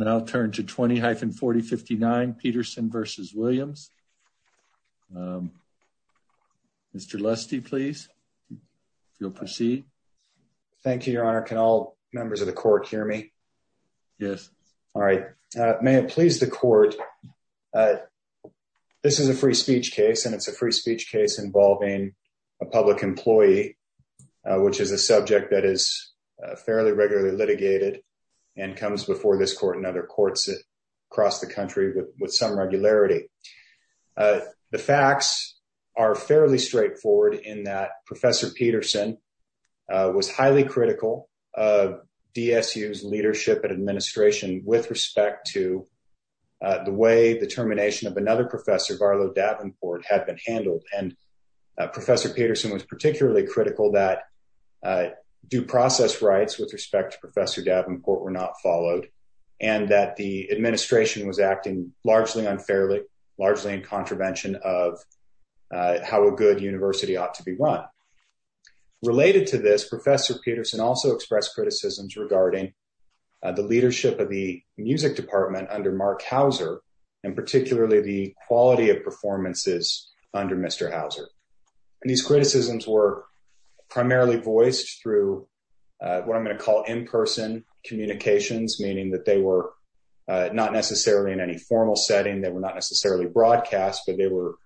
and I'll turn to 20-4059 Peterson v. Williams. Mr. Lusty, please. If you'll proceed. Thank you, Your Honor. Can all members of the court hear me? Yes. All right. May it please the court. This is a free speech case, and it's a free speech case involving a public employee, which is a subject that is fairly regularly litigated and comes before this court and other courts across the country with some regularity. The facts are fairly straightforward in that Professor Peterson was highly critical of DSU's leadership and administration with respect to the way the termination of another professor, Barlow Davenport, had been handled. And Professor Peterson was particularly critical that due process rights with respect to Professor Davenport were not followed and that the administration was acting largely unfairly, largely in contravention of how a good university ought to be run. Related to this, Professor Peterson also expressed criticisms regarding the leadership of the music department under Mark Hauser and particularly the quality of performances under Mr. Hauser. And these criticisms were primarily voiced through what I'm going to call in-person communications, meaning that they were not necessarily in any formal setting, they were not necessarily broadcast, but they were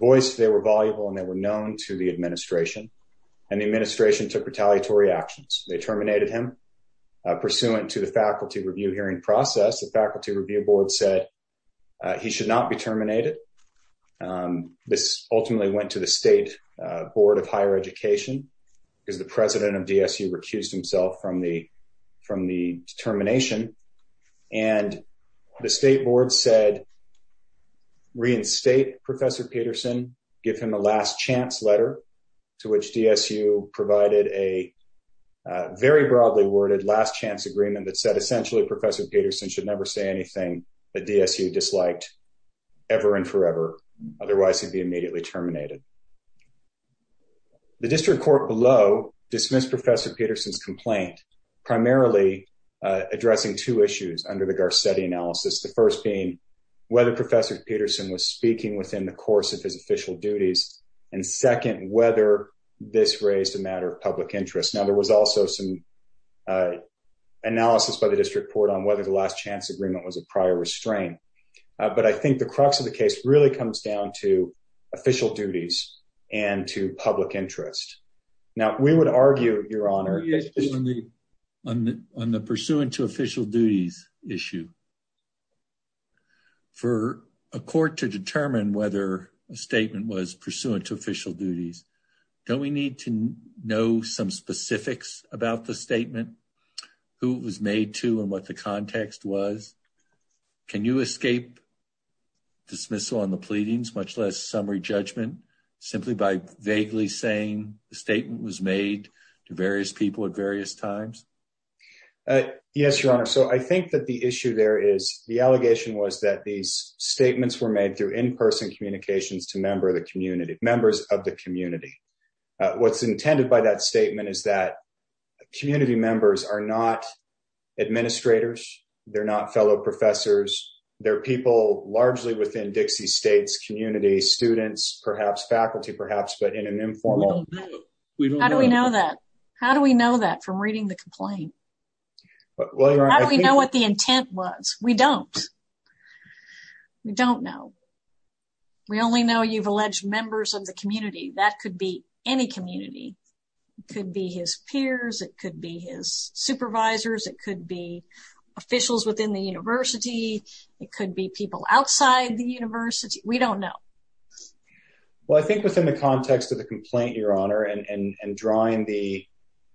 voiced, they were voluble, and they were known to the administration. And the administration took retaliatory actions. They terminated him. Pursuant to the faculty review hearing process, the faculty review board said he should not be terminated. This ultimately went to the State Board of Higher Education, because the president of DSU recused himself from the determination. And the state board said, reinstate Professor Peterson, give him a last chance letter, to which DSU provided a very broadly worded last chance agreement that said essentially Professor Peterson should never say anything that DSU disliked ever and forever, otherwise he'd be immediately terminated. The district court below dismissed Professor Peterson's complaint, primarily addressing two issues under the Garcetti analysis, the first being whether Professor Peterson was speaking within the course of his official duties, and second, whether this raised a matter of public interest. Now, there was also some analysis by the district court on whether the last chance agreement was a prior restraint. But I think the crux of the case really comes down to official duties and to public interest. Now, we would argue, Your Honor, on the pursuant to official duties issue. For a court to determine whether a statement was pursuant to official duties, don't we need to know some specifics about the statement, who it was made to and what the context was? Can you escape dismissal on the pleadings, much less summary judgment, simply by vaguely saying the statement was made to various people at various times? Yes, Your Honor. So I think that the issue there is, the allegation was that these statements were made through in-person communications to members of the community. What's intended by that statement is that community members are not administrators. They're not fellow professors. They're people largely within Dixie State's community, students, perhaps faculty, perhaps, but in an informal... We don't know. How do we know that? How do we know that from reading the complaint? How do we know what the intent was? We don't. We don't know. We only know you've alleged members of the community. That could be any community. It could be his peers. It could be his supervisors. It could be officials within the university. It could be people outside the university. We don't know. Well, I think within the context of the complaint, Your Honor, and drawing the...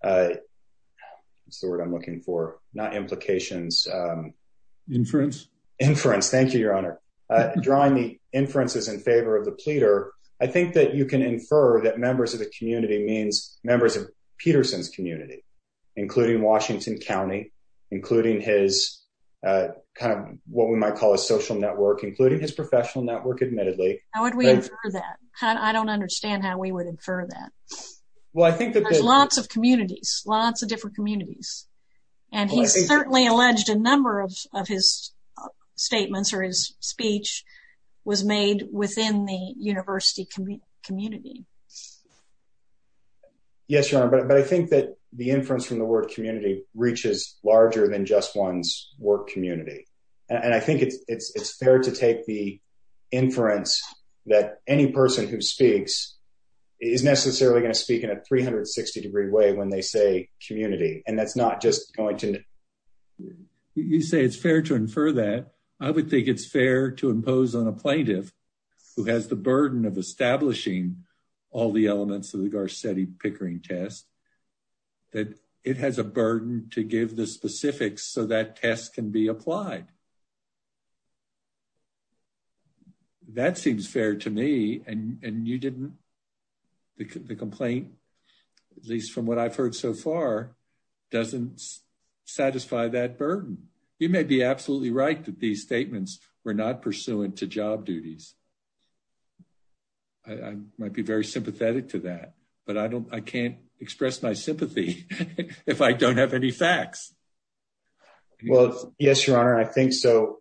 What's the word I'm looking for? Not implications. Inference. Inference, thank you, Your Honor. Drawing the inferences in favor of the pleader, I think that you can infer that members of the community means members of Peterson's community, including Washington County, including his kind of what we might call a social network, including his professional network, admittedly. How would we infer that? I don't understand how we would infer that. Well, I think that... There's lots of communities, lots of different communities. And he's certainly alleged a number of his statements or his speech was made within the university community. Yes, Your Honor, but I think that the inference from the word community reaches larger than just one's work community. And I think it's fair to take the inference that any person who speaks is necessarily going to speak in a 360-degree way when they say community. And that's not just going to... You say it's fair to infer that. I would think it's fair to impose on a plaintiff who has the burden of establishing all the elements of the Garcetti-Pickering test, that it has a burden to give the specifics so that test can be applied. That seems fair to me. And you didn't... The complaint, at least from what I've heard so far, doesn't satisfy that burden. You may be absolutely right that these statements were not pursuant to job duties. I might be very sympathetic to that, but I can't express my sympathy if I don't have any facts. Well, yes, Your Honor, I think so.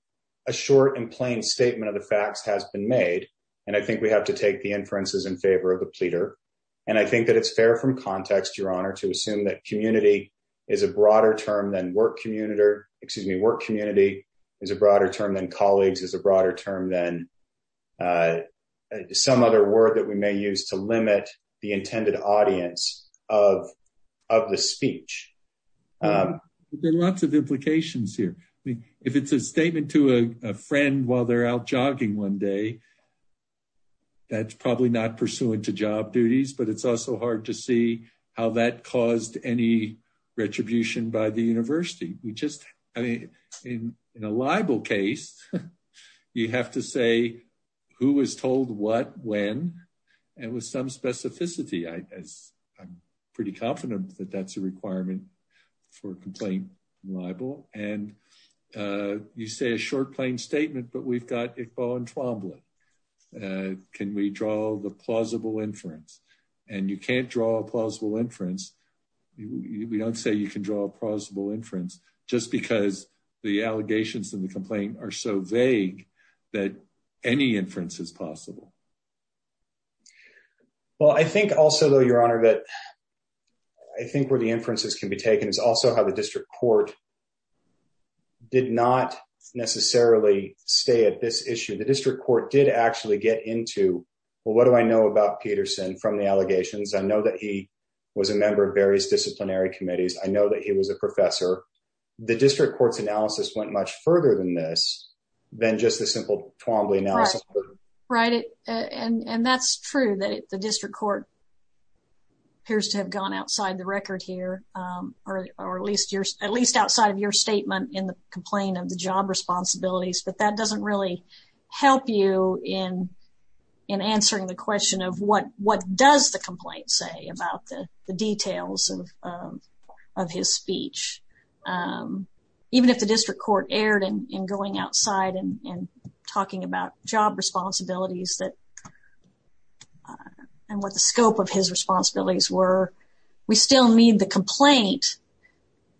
A short and plain statement of the facts has been made. And I think we have to take the inferences in favor of the pleader. And I think that it's fair from context, Your Honor, to assume that community is a broader term than work community, is a broader term than colleagues, is a broader term than some other word that we may use to limit the intended audience of the speech. There are lots of implications here. I mean, if it's a statement to a friend while they're out jogging one day, that's probably not pursuant to job duties. But it's also hard to see how that caused any retribution by the university. We just, I mean, in a libel case, you have to say who was told what, when, and with some specificity. I'm pretty confident that that's a requirement for complaint libel. And you say a short, plain statement, but we've got Iqbal and Twombly. Can we draw the plausible inference? And you can't draw a plausible inference. We don't say you can draw a plausible inference just because the allegations in the complaint are so vague that any inference is possible. Well, I think also, though, Your Honor, that I think where the inferences can be taken is also how the district court did not necessarily stay at this issue. The district court did actually get into, well, what do I know about Peterson from the allegations? I know that he was a member of various disciplinary committees. I know that he was a professor. The district court's analysis went much further than this, than just a simple Twombly analysis. Right. And that's true, that the district court appears to have gone outside the record here, or at least outside of your statement in the complaint of the job responsibilities. But that doesn't really help you in answering the question of what does the complaint say about the details of his speech. Even if the district court erred in going outside and talking about job responsibilities and what the scope of his responsibilities were, we still need the complaint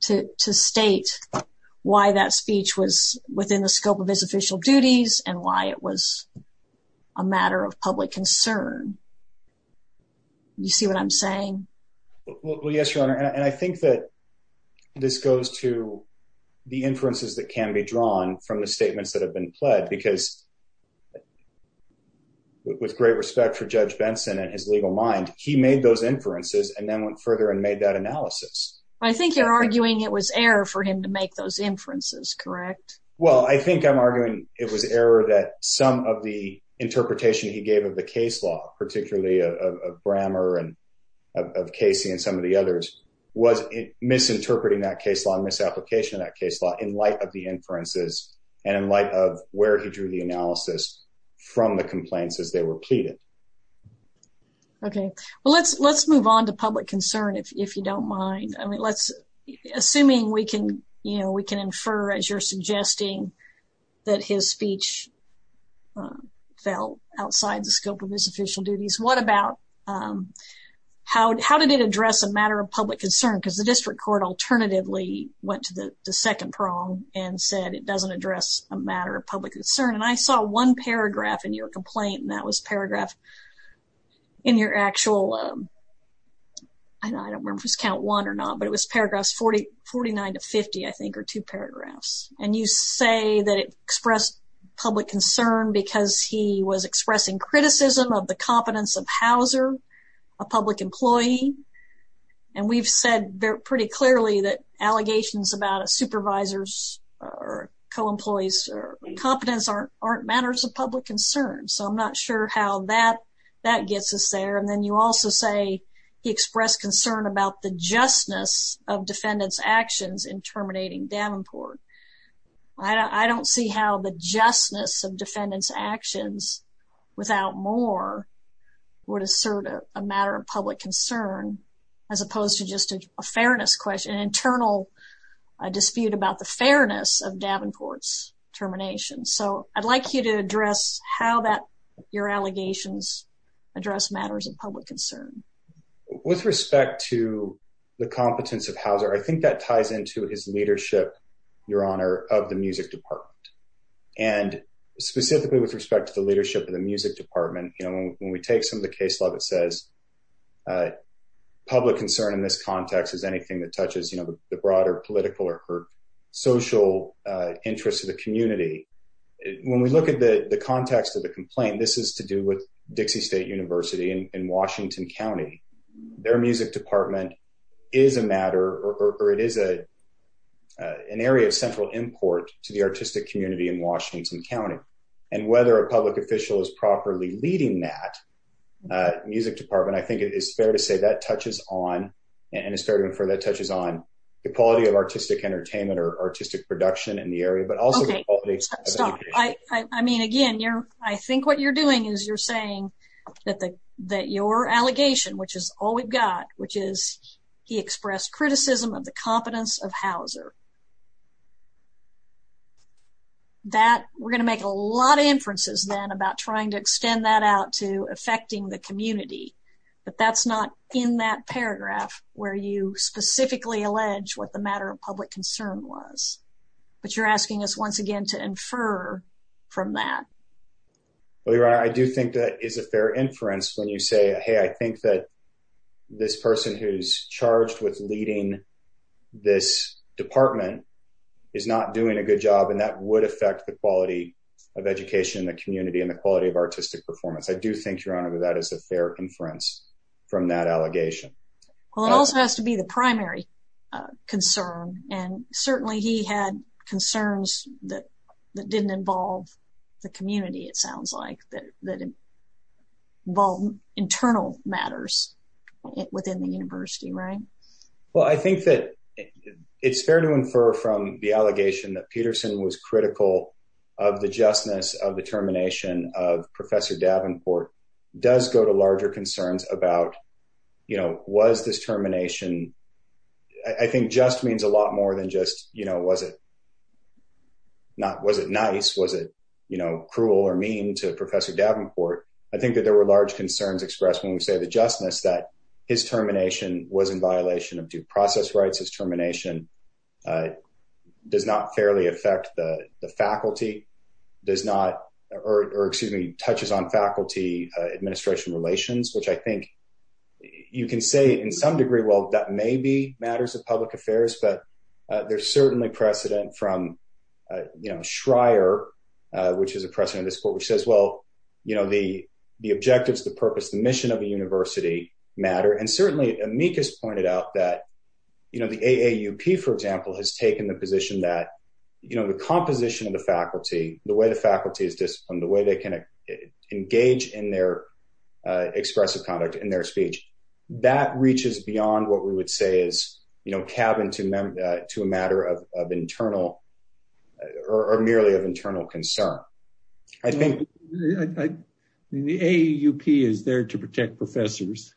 to state why that speech was within the scope of his official duties and why it was a matter of public concern. Do you see what I'm saying? Well, yes, Your Honor, and I think that this goes to the inferences that can be drawn from the statements that have been pled, because with great respect for Judge Benson and his legal mind, he made those inferences and then went further and made that analysis. I think you're arguing it was error for him to make those inferences, correct? Well, I think I'm arguing it was error that some of the interpretation he gave of the case law, particularly of Brammer and of Casey and some of the others, was misinterpreting that case law and misapplication of that case law in light of the inferences and in light of where he drew the analysis from the complaints as they were pleaded. Okay. Well, let's move on to public concern, if you don't mind. Assuming we can infer, as you're suggesting, that his speech fell outside the scope of his official duties, how did it address a matter of public concern? Because the district court alternatively went to the second prong and said it doesn't address a matter of public concern, and I saw one paragraph in your complaint, and that was paragraph in your actual, I don't remember if it was count one or not, but it was paragraphs 49 to 50, I think, or two paragraphs. And you say that it expressed public concern because he was expressing criticism of the competence of Hauser, a public employee, and we've said pretty clearly that allegations about a supervisor's or co-employee's competence aren't matters of public concern, so I'm not sure how that gets us there. And then you also say he expressed concern about the justness of defendants' actions in terminating Davenport. I don't see how the justness of defendants' actions, without more, would assert a matter of public concern as opposed to just a fairness question, an internal dispute about the fairness of Davenport's termination. So I'd like you to address how your allegations address matters of public concern. With respect to the competence of Hauser, I think that ties into his leadership, Your Honor, of the music department. And specifically with respect to the leadership of the music department, you know, when we take some of the case law that says public concern in this context is anything that touches, you know, the broader political or social interest of the community. When we look at the context of the complaint, this is to do with Dixie State University in Washington County. Their music department is a matter, or it is an area of central import to the artistic community in Washington County. And whether a public official is properly leading that music department, I think it is fair to say that touches on, and it's fair to infer that touches on, the quality of artistic entertainment or artistic production in the area, but also the quality. Stop. I mean, again, I think what you're doing is you're saying that your allegation, which is all we've got, which is he expressed criticism of the competence of Hauser. That, we're going to make a lot of inferences then about trying to extend that out to affecting the community. But that's not in that paragraph where you specifically allege what the matter of public concern was. But you're asking us once again to infer from that. I do think that is a fair inference when you say, hey, I think that this person who's charged with leading this department is not doing a good job. And that would affect the quality of education in the community and the quality of artistic performance. I do think, Your Honor, that is a fair inference from that allegation. Well, it also has to be the primary concern. And certainly he had concerns that didn't involve the community, it sounds like, that involve internal matters within the university, right? Well, I think that it's fair to infer from the allegation that Peterson was critical of the justness of the termination of Professor Davenport does go to larger concerns about, you know, was this termination. I think just means a lot more than just, you know, was it not was it nice? Was it cruel or mean to Professor Davenport? I think that there were large concerns expressed when we say the justness that his termination was in violation of due process rights. His termination does not fairly affect the faculty, does not, or excuse me, touches on faculty administration relations, which I think you can say in some degree. Well, that may be matters of public affairs, but there's certainly precedent from, you know, Schreier, which is a precedent in this court, which says, well, you know, the objectives, the purpose, the mission of a university matter. And certainly amicus pointed out that, you know, the AAUP, for example, has taken the position that, you know, the composition of the faculty, the way the faculty is disciplined, the way they can engage in their expressive conduct in their speech, that reaches beyond what we would say is, you know, cabin to a matter of internal or merely of internal concern. I mean, the AUP is there to protect professors.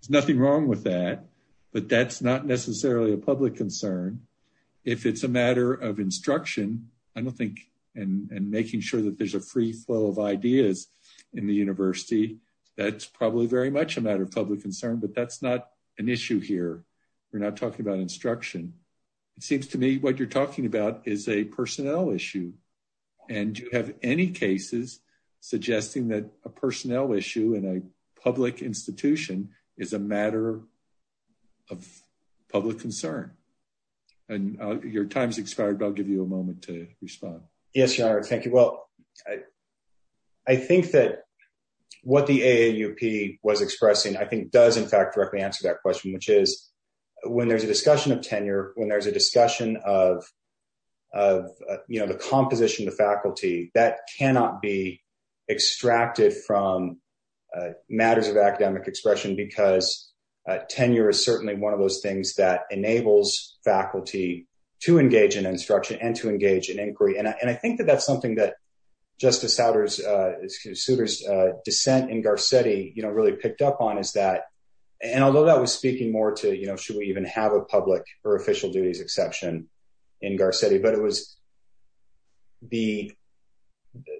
There's nothing wrong with that, but that's not necessarily a public concern. If it's a matter of instruction, I don't think and making sure that there's a free flow of ideas in the university. That's probably very much a matter of public concern, but that's not an issue here. We're not talking about instruction. It seems to me what you're talking about is a personnel issue. And do you have any cases suggesting that a personnel issue in a public institution is a matter of public concern? And your time's expired, but I'll give you a moment to respond. Yes, your honor. Thank you. Well, I think that what the AUP was expressing, I think, does, in fact, directly answer that question, which is when there's a discussion of tenure, when there's a discussion of, you know, the composition of the faculty that cannot be extracted from matters of academic expression, because tenure is certainly one of those things that enables faculty to engage in instruction and to engage in inquiry. And I think that that's something that Justice Souter's dissent in Garcetti, you know, really picked up on is that. And although that was speaking more to, you know, should we even have a public or official duties exception in Garcetti? But it was. The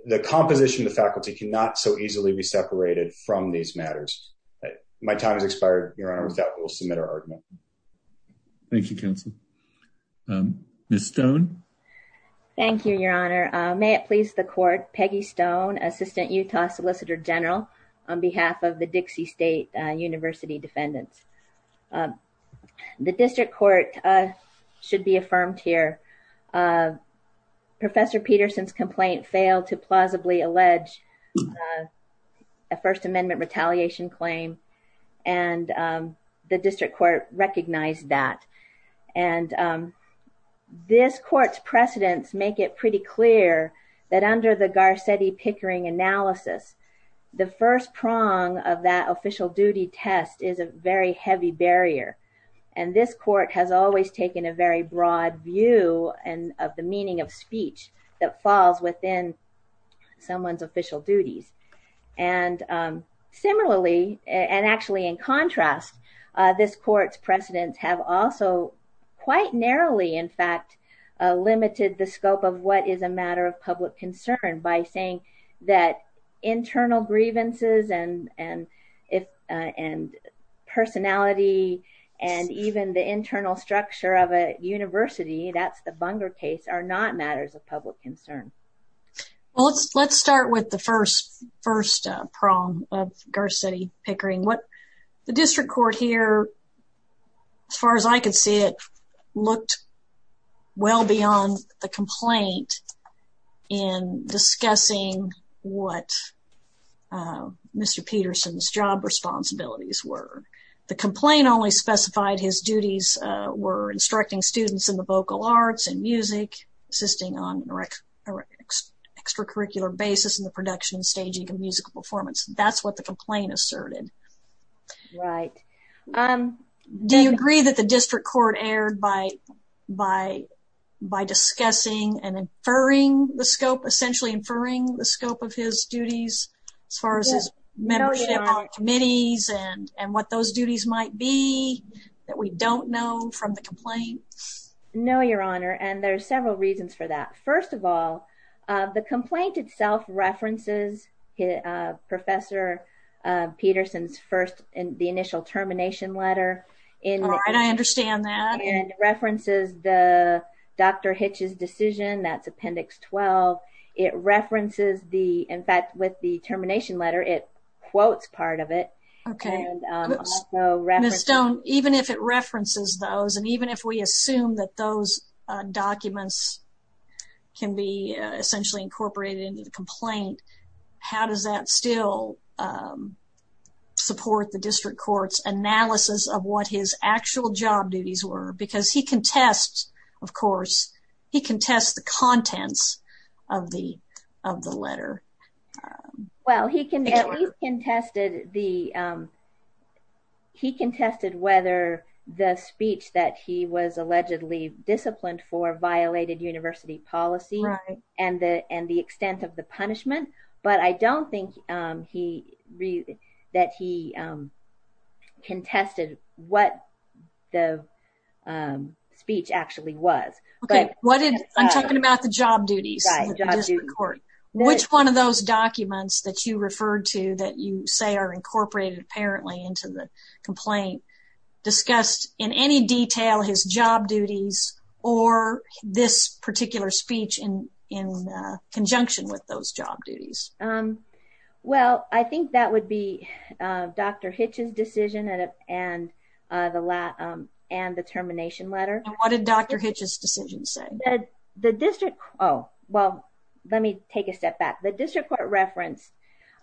the composition of the faculty cannot so easily be separated from these matters. My time has expired. Your honor, with that, we'll submit our argument. Thank you, counsel. Ms. Stone. Thank you, your honor. May it please the court. Peggy Stone, assistant Utah solicitor general on behalf of the Dixie State University defendants. The district court should be affirmed here. Professor Peterson's complaint failed to plausibly allege a First Amendment retaliation claim. And the district court recognized that. And this court's precedents make it pretty clear that under the Garcetti Pickering analysis, the first prong of that official duty test is a very heavy barrier. And this court has always taken a very broad view and of the meaning of speech that falls within someone's official duties. And similarly and actually in contrast, this court's precedents have also quite narrowly, in fact, limited the scope of what is a matter of public concern by saying that internal grievances and and if and personality and even the internal structure of a university. That's the Bunger case are not matters of public concern. Well, let's let's start with the first first prong of Garcetti Pickering. What the district court here, as far as I can see, it looked well beyond the complaint in discussing what Mr. Peterson's job responsibilities were. The complaint only specified his duties were instructing students in the vocal arts and music, assisting on an extracurricular basis in the production, staging and musical performance. That's what the complaint asserted. Right. Do you agree that the district court erred by by by discussing and inferring the scope, essentially inferring the scope of his duties as far as his membership committees and and what those duties might be that we don't know from the complaint? No, your honor. And there are several reasons for that. First of all, the complaint itself references Professor Peterson's first in the initial termination letter. And I understand that and references the doctor hitches decision. That's appendix 12. It references the in fact, with the termination letter, it quotes part of it. OK, so even if it references those and even if we assume that those documents can be essentially incorporated into the complaint, how does that still support the district court's analysis of what his actual job duties were? Because he contests, of course, he contests the contents of the of the letter. Well, he contested the he contested whether the speech that he was allegedly disciplined for violated university policy and the and the extent of the punishment. But I don't think he that he contested what the speech actually was. OK, what did I'm talking about? The job duties. Which one of those documents that you referred to that you say are incorporated apparently into the complaint discussed in any detail his job duties or this particular speech in in conjunction with those job duties? Well, I think that would be Dr. Hitch's decision and the and the termination letter. What did Dr. Hitch's decision say? The district. Oh, well, let me take a step back. The district court referenced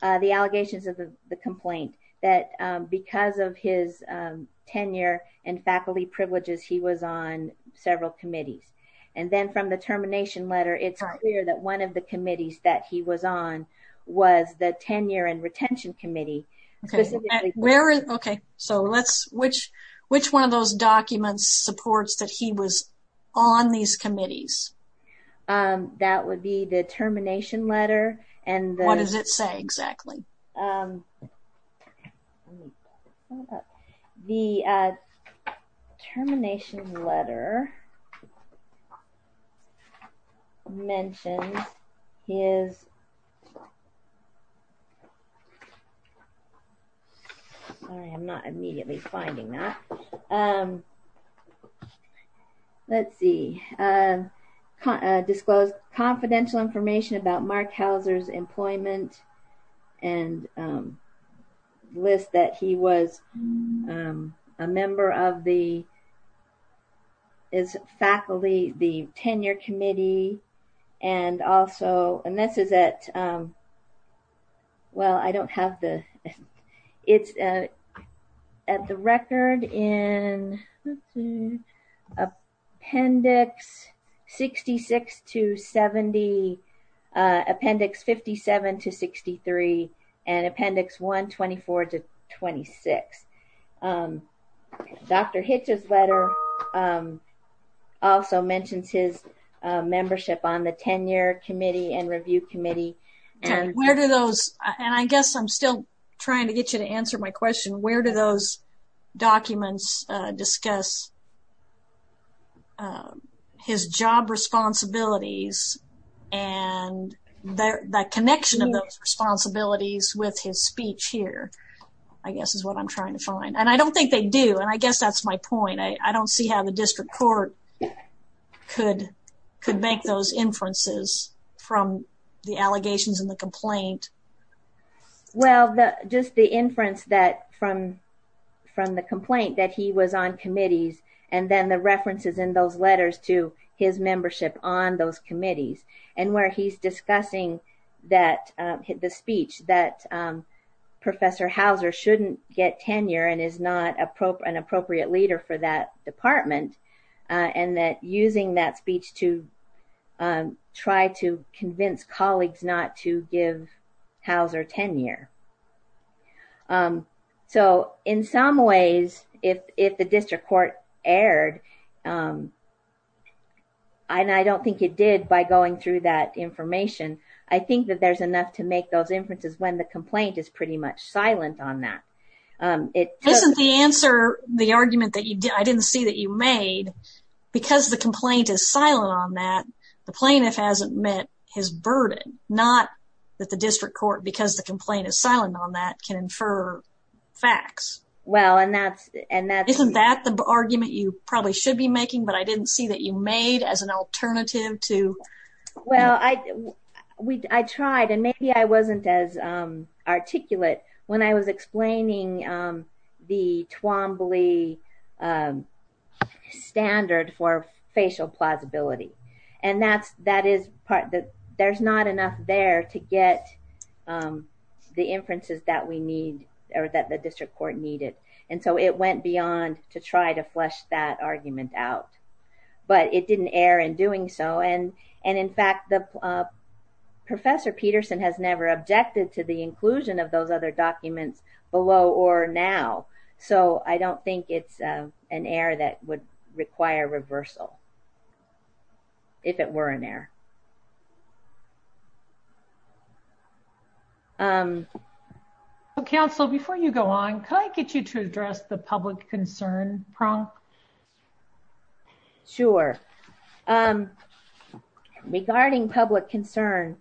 the allegations of the complaint that because of his tenure and faculty privileges, he was on several committees. And then from the termination letter, it's clear that one of the committees that he was on was the tenure and retention committee. OK, so let's which which one of those documents supports that he was on these committees? That would be the termination letter. And what does it say exactly? The termination letter. Mentioned his. I am not immediately finding that. Let's see. Disclose confidential information about Mark Hauser's employment and list that he was a member of the. Is faculty the tenure committee and also and this is that. Well, I don't have the it's at the record in the appendix, 66 to 70 appendix, 57 to 63 and appendix 124 to 26. Dr. Hitch's letter also mentions his membership on the tenure committee and review committee. And where do those and I guess I'm still trying to get you to answer my question. Where do those documents discuss. His job responsibilities and the connection of those responsibilities with his speech here, I guess, is what I'm trying to find. And I don't think they do. And I guess that's my point. I don't see how the district court could could make those inferences from the allegations in the complaint. Well, just the inference that from from the complaint that he was on committees and then the references in those letters to his membership on those committees. And where he's discussing that the speech that Professor Hauser shouldn't get tenure and is not an appropriate leader for that department. And that using that speech to try to convince colleagues not to give Hauser tenure. So in some ways, if if the district court erred, I don't think it did by going through that information. I think that there's enough to make those inferences when the complaint is pretty much silent on that. It isn't the answer the argument that you did. I didn't see that you made because the complaint is silent on that. The plaintiff hasn't met his burden, not that the district court, because the complaint is silent on that can infer facts. Well, and that's and that isn't that the argument you probably should be making. But I didn't see that you made as an alternative to. Well, I tried and maybe I wasn't as articulate when I was explaining the Twombly standard for facial plausibility. And that's that is part that there's not enough there to get the inferences that we need or that the district court needed. And so it went beyond to try to flesh that argument out. But it didn't err in doing so. And and in fact, the Professor Peterson has never objected to the inclusion of those other documents below or now. So I don't think it's an error that would require reversal. If it were an error. Council, before you go on, can I get you to address the public concern prong? Sure. Regarding public concern.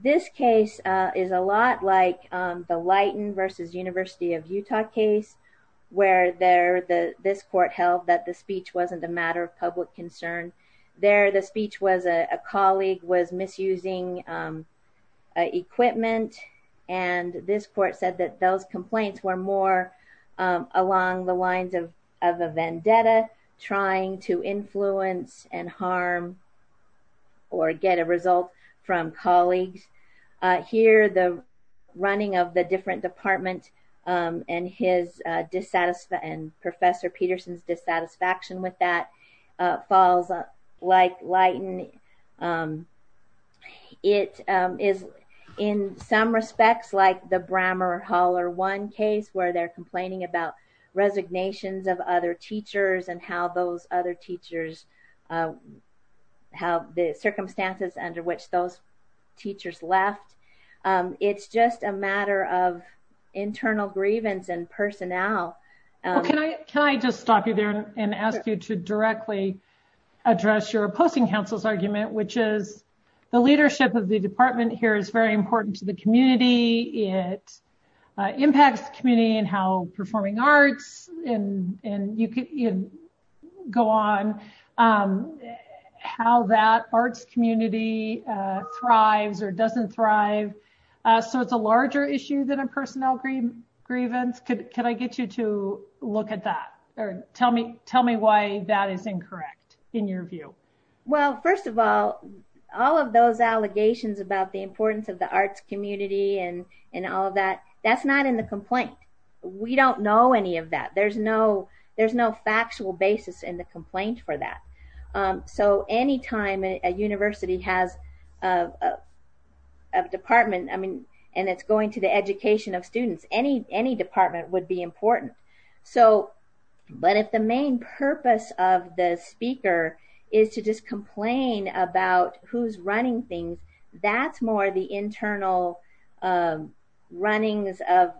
This case is a lot like the Leighton versus University of Utah case where there the this court held that the speech wasn't a matter of public concern. There the speech was a colleague was misusing equipment. And this court said that those complaints were more along the lines of of a vendetta trying to influence and harm or get a result from colleagues. Here, the running of the different department and his dissatisfaction and Professor Peterson's dissatisfaction with that falls like light. It is in some respects like the Brammer Hall or one case where they're complaining about resignations of other teachers and how those other teachers have the circumstances under which those teachers left. It's just a matter of internal grievance and personnel. Can I just stop you there and ask you to directly address your opposing counsel's argument, which is the leadership of the department here is very important to the community. It impacts community and how performing arts and you can go on how that arts community thrives or doesn't thrive. So it's a larger issue than a personnel green grievance. Could I get you to look at that or tell me tell me why that is incorrect in your view. Well, first of all, all of those allegations about the importance of the arts community and and all of that. That's not in the complaint. We don't know any of that. There's no there's no factual basis in the complaint for that. So any time a university has a department, I mean, and it's going to the education of students, any department would be important. So but if the main purpose of the speaker is to just complain about who's running things, that's more the internal runnings of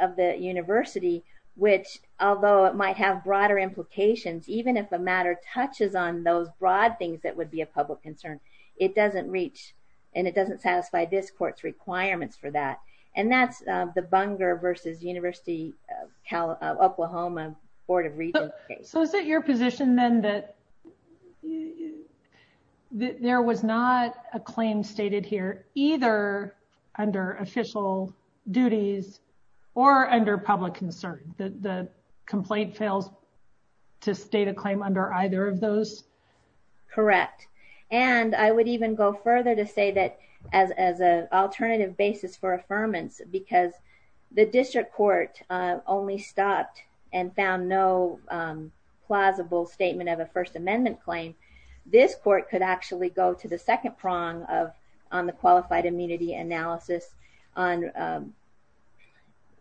of the university, which, although it might have broader implications, even if the matter touches on those broad things, that would be a public concern. It doesn't reach and it doesn't satisfy this court's requirements for that. And that's the Bunger versus University of Oklahoma Board of Readers. So is it your position then that there was not a claim stated here, either under official duties or under public concern that the complaint fails to state a claim under either of those? Correct. And I would even go further to say that as as an alternative basis for affirmance, because the district court only stopped and found no plausible statement of a First Amendment claim. This court could actually go to the second prong of on the qualified immunity analysis on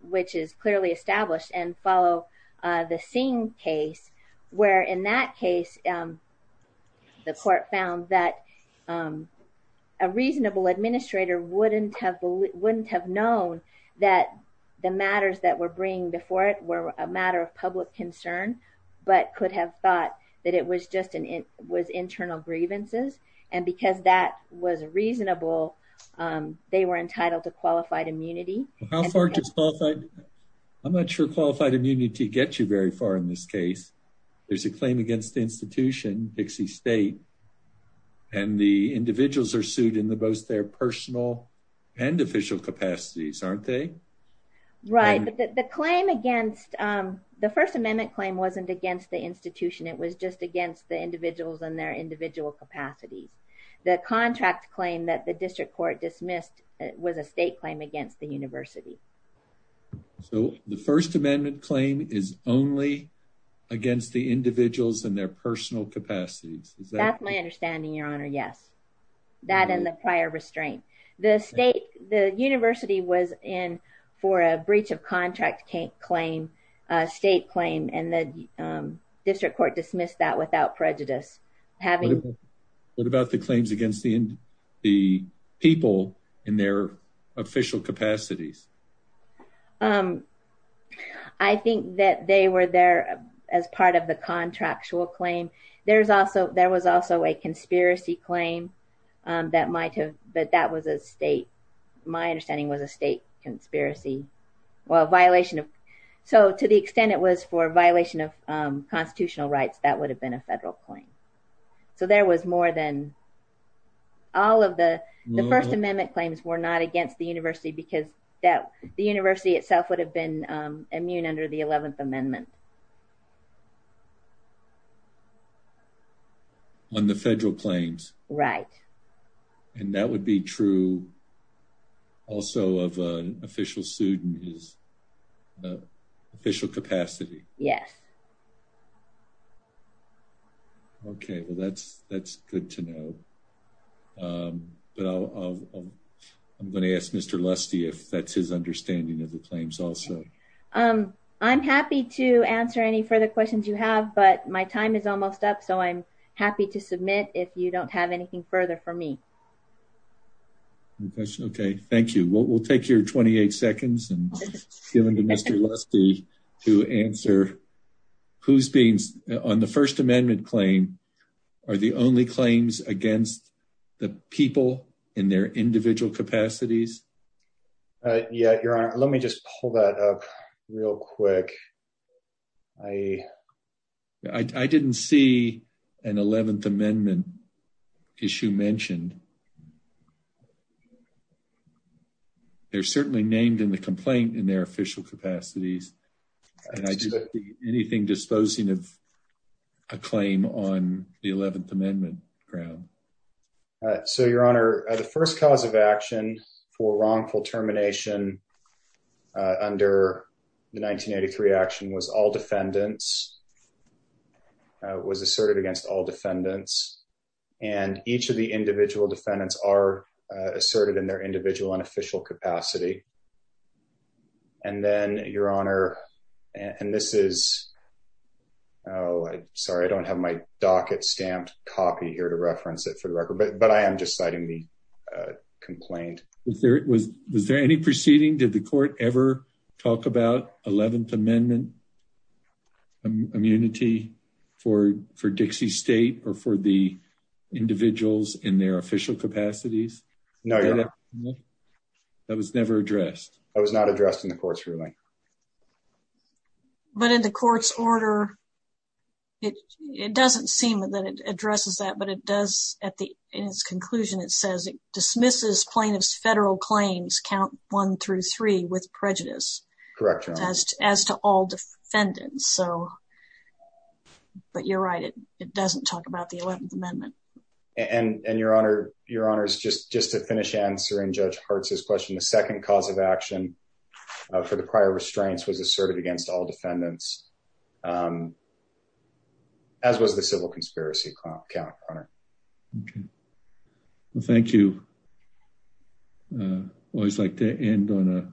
which is clearly established and follow the same case where, in that case, the court found that a reasonable administrator wouldn't have wouldn't have known that the matters that were bringing before it were a matter of public concern, but could have thought that it was just an it was internal grievances. And because that was reasonable, they were entitled to qualified immunity. How far does qualified? I'm not sure qualified immunity gets you very far in this case. There's a claim against the institution, Dixie State, and the individuals are sued in the both their personal and official capacities, aren't they? Right. But the claim against the First Amendment claim wasn't against the institution. It was just against the individuals and their individual capacities. The contract claim that the district court dismissed was a state claim against the university. So the First Amendment claim is only against the individuals and their personal capacities. That's my understanding, Your Honor. Yes, that in the prior restraint, the state, the university was in for a breach of contract claim, state claim, and the district court dismissed that without prejudice. What about the claims against the people in their official capacities? I think that they were there as part of the contractual claim. There's also there was also a conspiracy claim that might have. But that was a state. My understanding was a state conspiracy. Well, violation. So to the extent it was for violation of constitutional rights, that would have been a federal claim. So there was more than all of the First Amendment claims were not against the university because that the university itself would have been immune under the 11th Amendment. On the federal claims. Right. And that would be true. Also, of an official student is the official capacity. Yes. OK, well, that's that's good to know. But I'm going to ask Mr. Lusty if that's his understanding of the claims. Also, I'm happy to answer any further questions you have. But my time is almost up. So I'm happy to submit if you don't have anything further for me. OK, thank you. Well, we'll take your 28 seconds and give it to Mr. Lusty to answer who's been on the First Amendment claim are the only claims against the people in their individual capacities. Yet, Your Honor, let me just pull that up real quick. I, I didn't see an 11th Amendment issue mentioned. They're certainly named in the complaint in their official capacities. And I do anything disposing of a claim on the 11th Amendment ground. So, Your Honor, the first cause of action for wrongful termination under the 1983 action was all defendants was asserted against all defendants. And each of the individual defendants are asserted in their individual and official capacity. And then, Your Honor, and this is, oh, sorry, I don't have my docket stamped copy here to reference it for the record, but I am just citing the complaint. Was there any proceeding? Did the court ever talk about 11th Amendment immunity for Dixie State or for the individuals in their official capacities? No, Your Honor. That was never addressed? That was not addressed in the court's ruling. But in the court's order, it doesn't seem that it addresses that, but it does at the end, its conclusion, it says dismisses plaintiff's federal claims count one through three with prejudice. Correct. As to all defendants. So, but you're right. It doesn't talk about the 11th Amendment. And Your Honor, Your Honor, just to finish answering Judge Hartz's question, the second cause of action for the prior restraints was asserted against all defendants, as was the civil conspiracy count, Your Honor. Okay. Well, thank you. I always like to end on a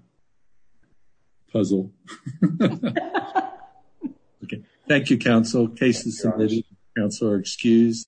puzzle. Okay. Thank you, counsel. Cases submitted by counsel are excused.